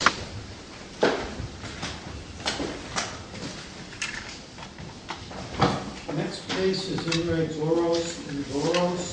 The next case is INRE BOROS v. BOROS,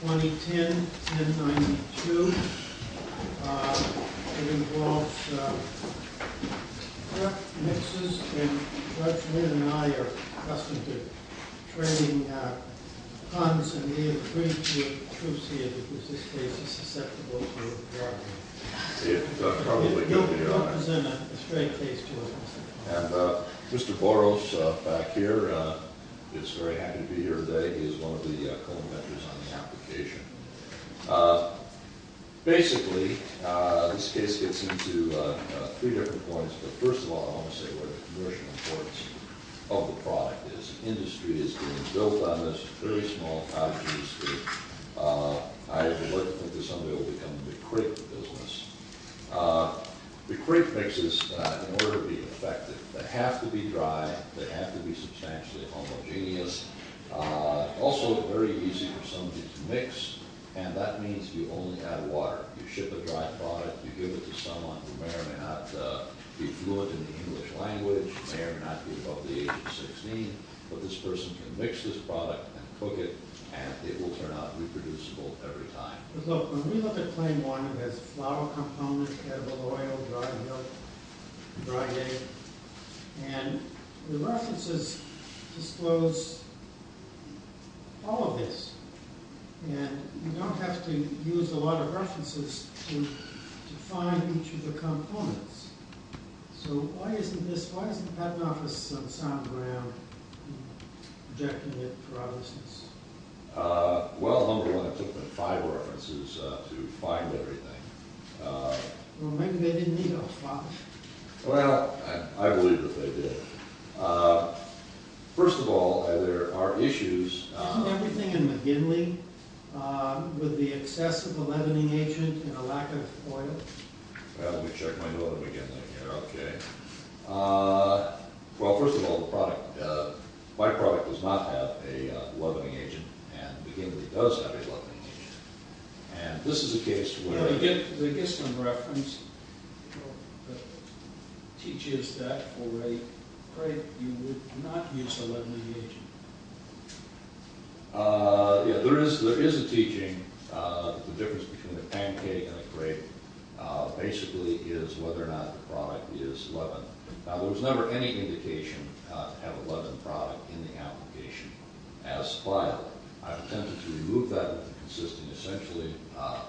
2010-1092. It involves truck mixers, and Judge Wynn and I are accustomed to trading puns, and we agree that this case is susceptible to bargaining. It probably could be, right? You'll present a straight case to us. And Mr. Boros, back here, is very happy to be here today. He is one of the co-inventors on the application. Basically, this case gets into three different points. But first of all, I want to say where the commercial importance of the product is. This industry is being built on this very small pouch industry. I would like to think that someday it will become the crate of business. The crate mixes, in order to be effective, they have to be dry. They have to be substantially homogeneous. Also, it's very easy for somebody to mix, and that means you only add water. You ship a dry product. You give it to someone who may or may not be fluent in the English language, may or may not be above the age of 16, but this person can mix this product and cook it, and it will turn out reproducible every time. Look, when we look at claim one, it has flour component, edible oil, dried milk, dried egg, and the references disclose all of this. And you don't have to use a lot of references to find each of the components. So why isn't the patent office on the sound ground rejecting it for other reasons? Well, Humberland took the five references to find everything. Well, maybe they didn't need all five. Well, I believe that they did. First of all, there are issues. Isn't everything in McGinley with the excess of a leavening agent and a lack of oil? Well, let me check my note of McGinley here. Okay. Well, first of all, the product, my product does not have a leavening agent, and McGinley does have a leavening agent. And this is a case where they get some reference that teaches that already. Craig, you would not use a leavening agent. Yeah, there is a teaching. The difference between a pancake and a crepe basically is whether or not the product is leavened. Now, there was never any indication to have a leavened product in the application as filed. I've attempted to remove that with a consistent, essentially,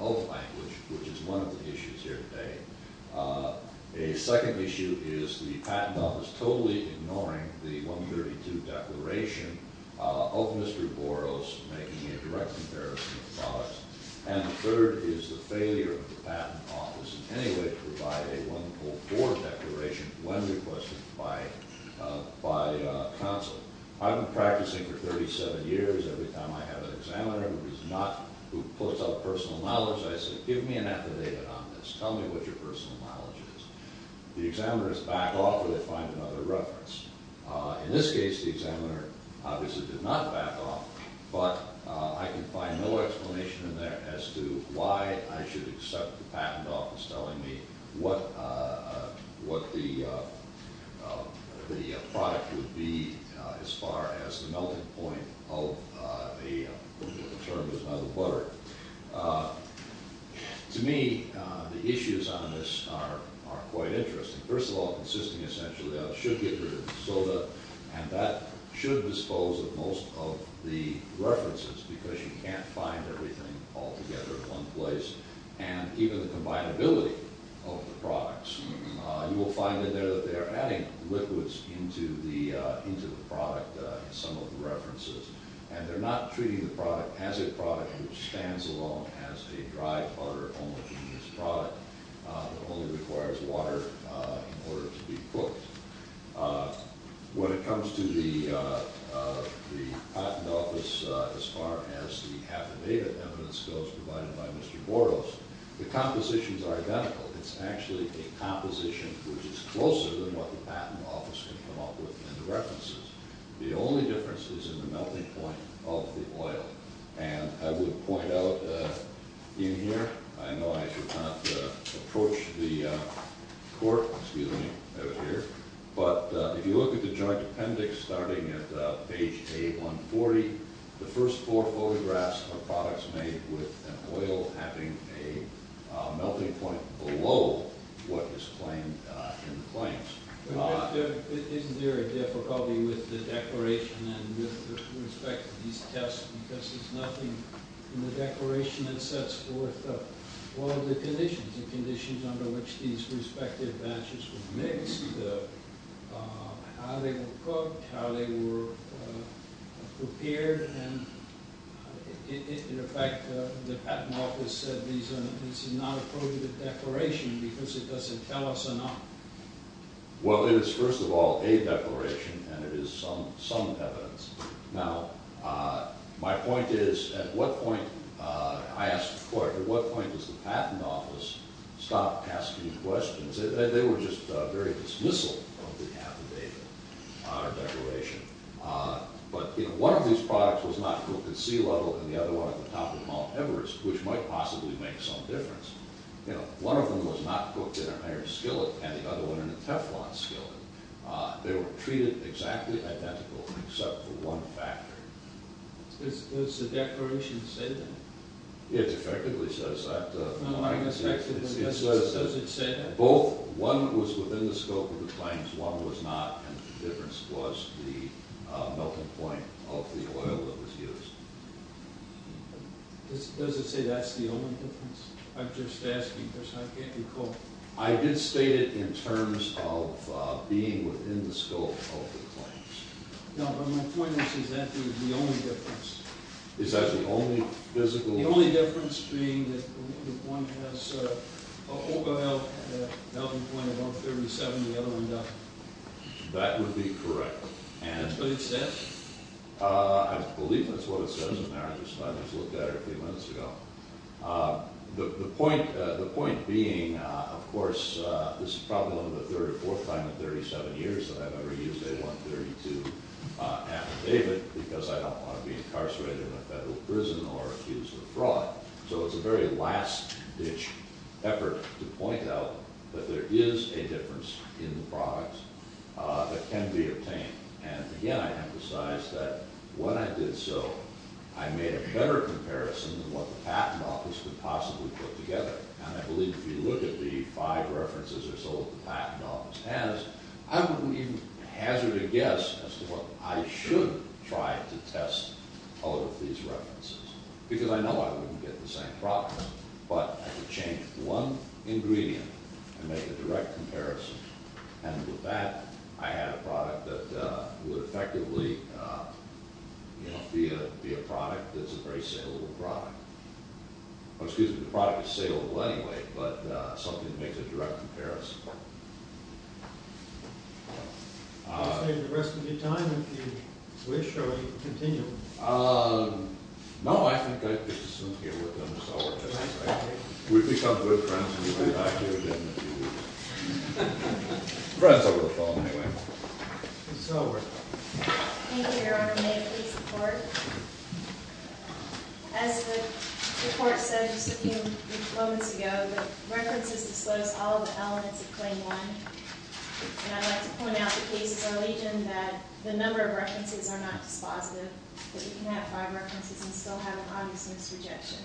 oath language, which is one of the issues here today. A second issue is the patent office totally ignoring the 132 declaration of Mr. Boros for making a direct comparison of products. And the third is the failure of the patent office in any way to provide a 104 declaration when requested by counsel. I've been practicing for 37 years. Every time I have an examiner who puts up personal knowledge, I say, give me an affidavit on this. Tell me what your personal knowledge is. The examiners back off or they find another reference. In this case, the examiner obviously did not back off, but I can find no explanation in there as to why I should accept the patent office telling me what the product would be as far as the melting point of a term that's not a butter. To me, the issues on this are quite interesting. First of all, consisting, essentially, of sugar, soda, and that should dispose of most of the references because you can't find everything altogether in one place, and even the combinability of the products. You will find in there that they are adding liquids into the product in some of the references, and they're not treating the product as a product which stands alone as a dry butter homogeneous product When it comes to the patent office as far as the affidavit evidence goes provided by Mr. Boros, the compositions are identical. It's actually a composition which is closer than what the patent office can come up with in the references. The only difference is in the melting point of the oil, and I would point out in here, I know I should not approach the court, excuse me, out here, but if you look at the joint appendix starting at page A140, the first four photographs are products made with an oil having a melting point below what is claimed in the claims. Isn't there a difficulty with the declaration and with respect to these tests because there's nothing in the declaration that sets forth what are the conditions, the conditions under which these respective batches were mixed, how they were cooked, how they were prepared, and in fact the patent office said this is not a part of the declaration because it doesn't tell us enough. Well, it is first of all a declaration and it is some evidence. Now, my point is, at what point, I asked the court, at what point does the patent office stop asking questions? They were just very dismissal of the affidavit, our declaration, but one of these products was not cooked at sea level and the other one at the top of Mount Everest, which might possibly make some difference. One of them was not cooked in an iron skillet and the other one in a teflon skillet. They were treated exactly identical except for one factor. Does the declaration say that? It effectively says that. Does it say that? One was within the scope of the claims, one was not, and the difference was the melting point of the oil that was used. Does it say that's the only difference? I'm just asking. I can't recall. I did state it in terms of being within the scope of the claims. No, but my point is, is that the only difference? Is that the only physical difference? The only difference being that one has an overall melting point of 137 and the other one doesn't. That would be correct. That's what it says? I believe that's what it says in the marriage assignment I looked at a few minutes ago. The point being, of course, this is probably the 34th time in 37 years that I've ever used A132 affidavit because I don't want to be incarcerated in a federal prison or accused of fraud. So it's a very last-ditch effort to point out that there is a difference in the product that can be obtained. And, again, I emphasize that when I did so, I made a better comparison than what the Patent Office could possibly put together. And I believe if you look at the five references or so that the Patent Office has, I wouldn't even hazard a guess as to what I should try to test out of these references because I know I wouldn't get the same problem, but I could change one ingredient and make a direct comparison. And with that, I had a product that would effectively be a product that's a very saleable product. Excuse me, the product is saleable anyway, but something that makes a direct comparison. We'll stay for the rest of your time if you wish, or we can continue. No, I think I'd better stop here. We've become good friends and we'll be back here again in a few weeks. Friends over the phone, anyway. Thank you, Your Honor. May it please the Court? As the Court said just a few moments ago, the references disclose all the elements of Claim 1. And I'd like to point out the case of our legion that the number of references are not dispositive, that you can have five references and still have an obvious misrejection.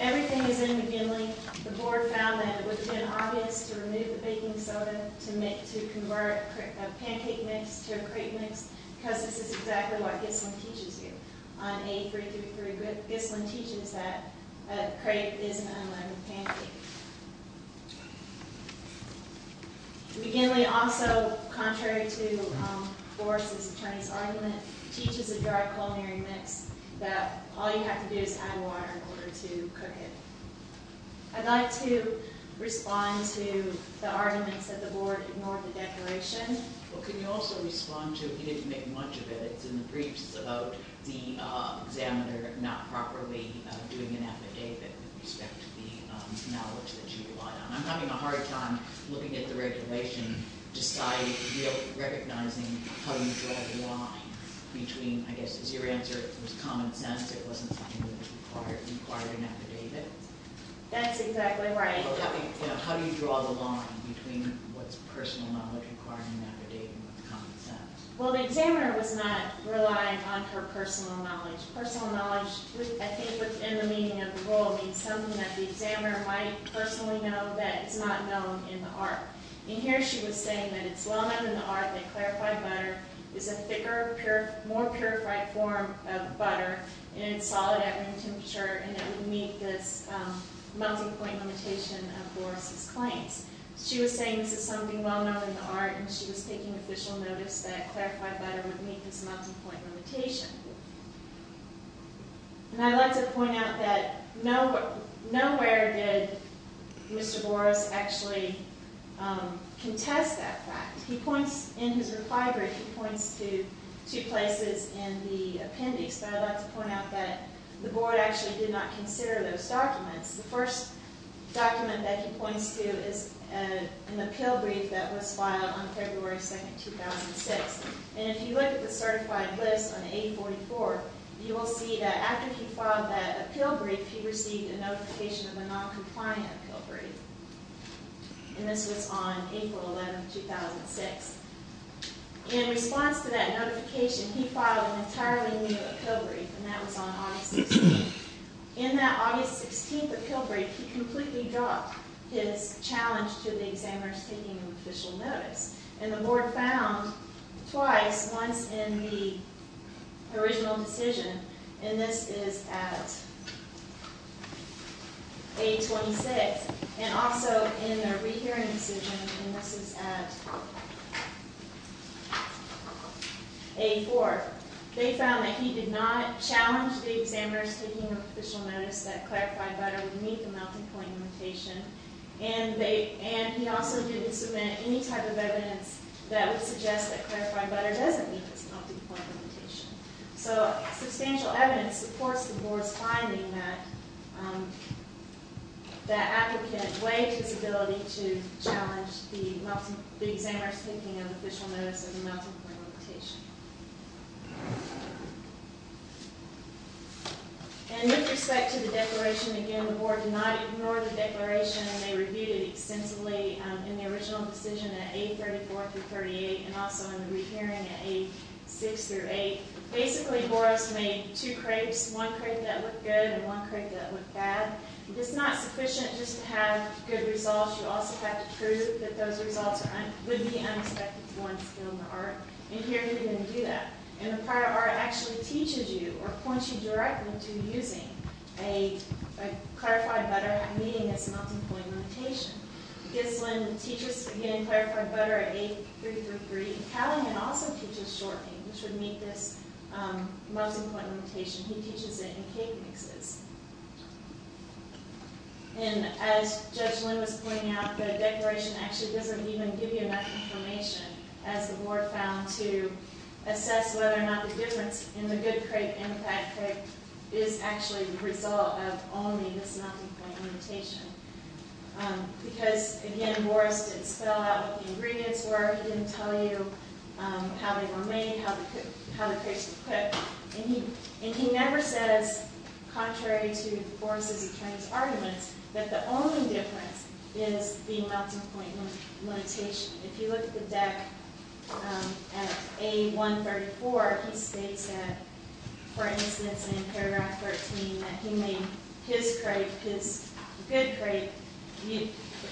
Everything is in McGinley. The Board found that it would have been obvious to remove the baking soda to convert a pancake mix to a crepe mix because this is exactly what Gislin teaches you. On A333, Gislin teaches that a crepe is an unleavened pancake. McGinley also, contrary to Boris' attorney's argument, teaches a dry culinary mix that all you have to do is add water in order to cook it. I'd like to respond to the arguments that the Board ignored the declaration. Well, can you also respond to, he didn't make much of it, it's in the briefs, it's about the examiner not properly doing an affidavit with respect to the knowledge that you relied on. I'm having a hard time looking at the regulation, recognizing how you draw the line between, I guess your answer was common sense, it wasn't something that was required in an affidavit. That's exactly right. How do you draw the line between what's personal knowledge required in an affidavit and what's common sense? Well, the examiner was not relying on her personal knowledge. Personal knowledge, I think within the meaning of the rule, means something that the examiner might personally know that is not known in the art. And here she was saying that it's well known in the art that clarified butter is a thicker, more purified form of butter, and it's solid at room temperature, and it would meet this melting point limitation of Boris' claims. She was saying this is something well known in the art, and she was taking official notice that clarified butter would meet this melting point limitation. And I'd like to point out that nowhere did Mr. Boris actually contest that fact. In his reply brief, he points to two places in the appendix, but I'd like to point out that the board actually did not consider those documents. The first document that he points to is an appeal brief that was filed on February 2, 2006. And if you look at the certified list on A44, you will see that after he filed that appeal brief, he received a notification of a noncompliant appeal brief. And this was on April 11, 2006. In response to that notification, he filed an entirely new appeal brief, and that was on August 6. In that August 16 appeal brief, he completely dropped his challenge to the examiners taking official notice. And the board found twice, once in the original decision, and this is at A26, and also in the rehearing decision, and this is at A4, they found that he did not challenge the examiners taking official notice that clarified butter would meet the melting point limitation, and he also didn't submit any type of evidence that would suggest that clarified butter doesn't meet this melting point limitation. So substantial evidence supports the board's finding that the applicant waived his ability to challenge the examiners taking official notice of the melting point limitation. And with respect to the declaration, again, the board did not ignore the declaration, and they reviewed it extensively in the original decision at A34 through 38, and also in the rehearing at A6 through 8. Basically, Boros made two crepes, one crepe that looked good and one crepe that looked bad. If it's not sufficient just to have good results, you also have to prove that those results would be unexpected with one skill in the art, and here he didn't do that. And the prior art actually teaches you or points you directly to using a clarified butter meeting its melting point limitation. Gislin teaches, again, clarified butter at A333. Callahan also teaches shortening, which would meet this melting point limitation. He teaches it in cake mixes. And as Judge Lynn was pointing out, the declaration actually doesn't even give you enough information, as the board found, to assess whether or not the difference in the good crepe and the bad crepe is actually the result of only this melting point limitation. Because, again, Boros did spell out what the ingredients were. He didn't tell you how they were made, how the crepes were cooked. And he never says, contrary to Boros' attorney's arguments, that the only difference is the melting point limitation. If you look at the deck at A134, he states that, for instance, in paragraph 13, that he made his crepe, his good crepe,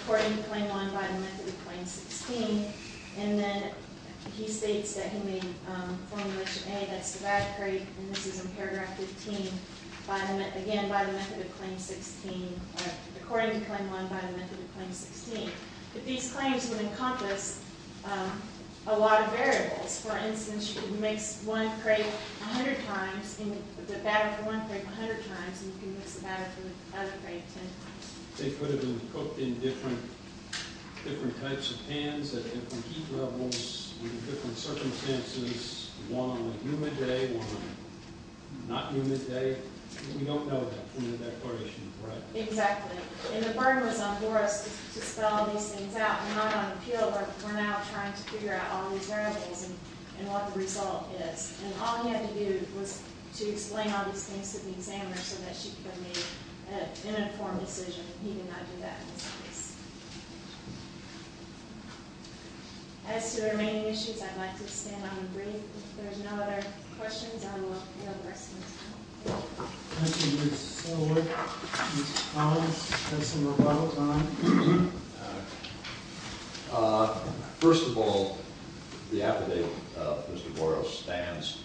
according to claim one, by the method of claim 16. And then he states that he made Formulation A, that's the bad crepe, and this is in paragraph 15, again, by the method of claim 16, according to claim one, by the method of claim 16. But these claims would encompass a lot of variables. For instance, if you mix one crepe 100 times, the batter for one crepe 100 times, you can mix the batter for the other crepe 10 times. They could have been cooked in different types of pans, at different heat levels, in different circumstances, one on a humid day, one on a not-humid day. We don't know that from the declaration, right? Exactly. And the burden was on Boros to spell these things out. We're not on appeal, but we're now trying to figure out all these variables and what the result is. And all he had to do was to explain all these things to the examiner so that she could make an informed decision. He did not do that in this case. As to the remaining issues, I'd like to stand on and breathe. If there's no other questions, I will yield the rest of my time. Thank you, Ms. Seller. Mr. Collins, you have some rebuttal time. First of all, the affidavit of Mr. Boros stands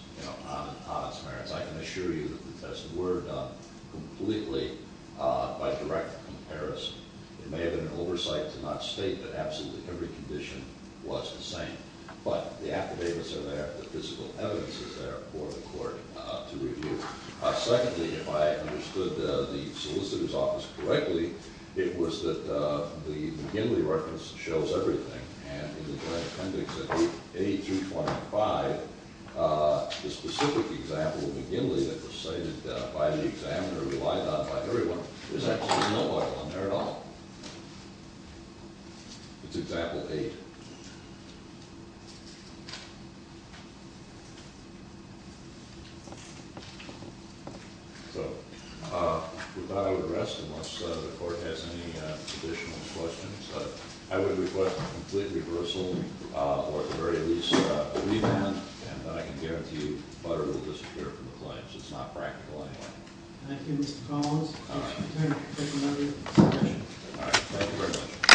on its merits. I can assure you that the tests were done completely by direct comparison. It may have been an oversight to not state that absolutely every condition was the same. But the affidavits are there, the physical evidence is there for the court to review. Secondly, if I understood the solicitor's office correctly, it was that the McGinley reference shows everything. And in the direct appendix of A325, the specific example of McGinley that was cited by the examiner, relied on by everyone, there's actually no other one there at all. It's Example 8. So, with that, I would rest unless the court has any additional questions. I would request a complete reversal, or at the very least, a revamp. And I can guarantee you butter will disappear from the claims. It's not practical anyway. Thank you, Mr. Collins. Attorney General, take another question. All right, thank you very much.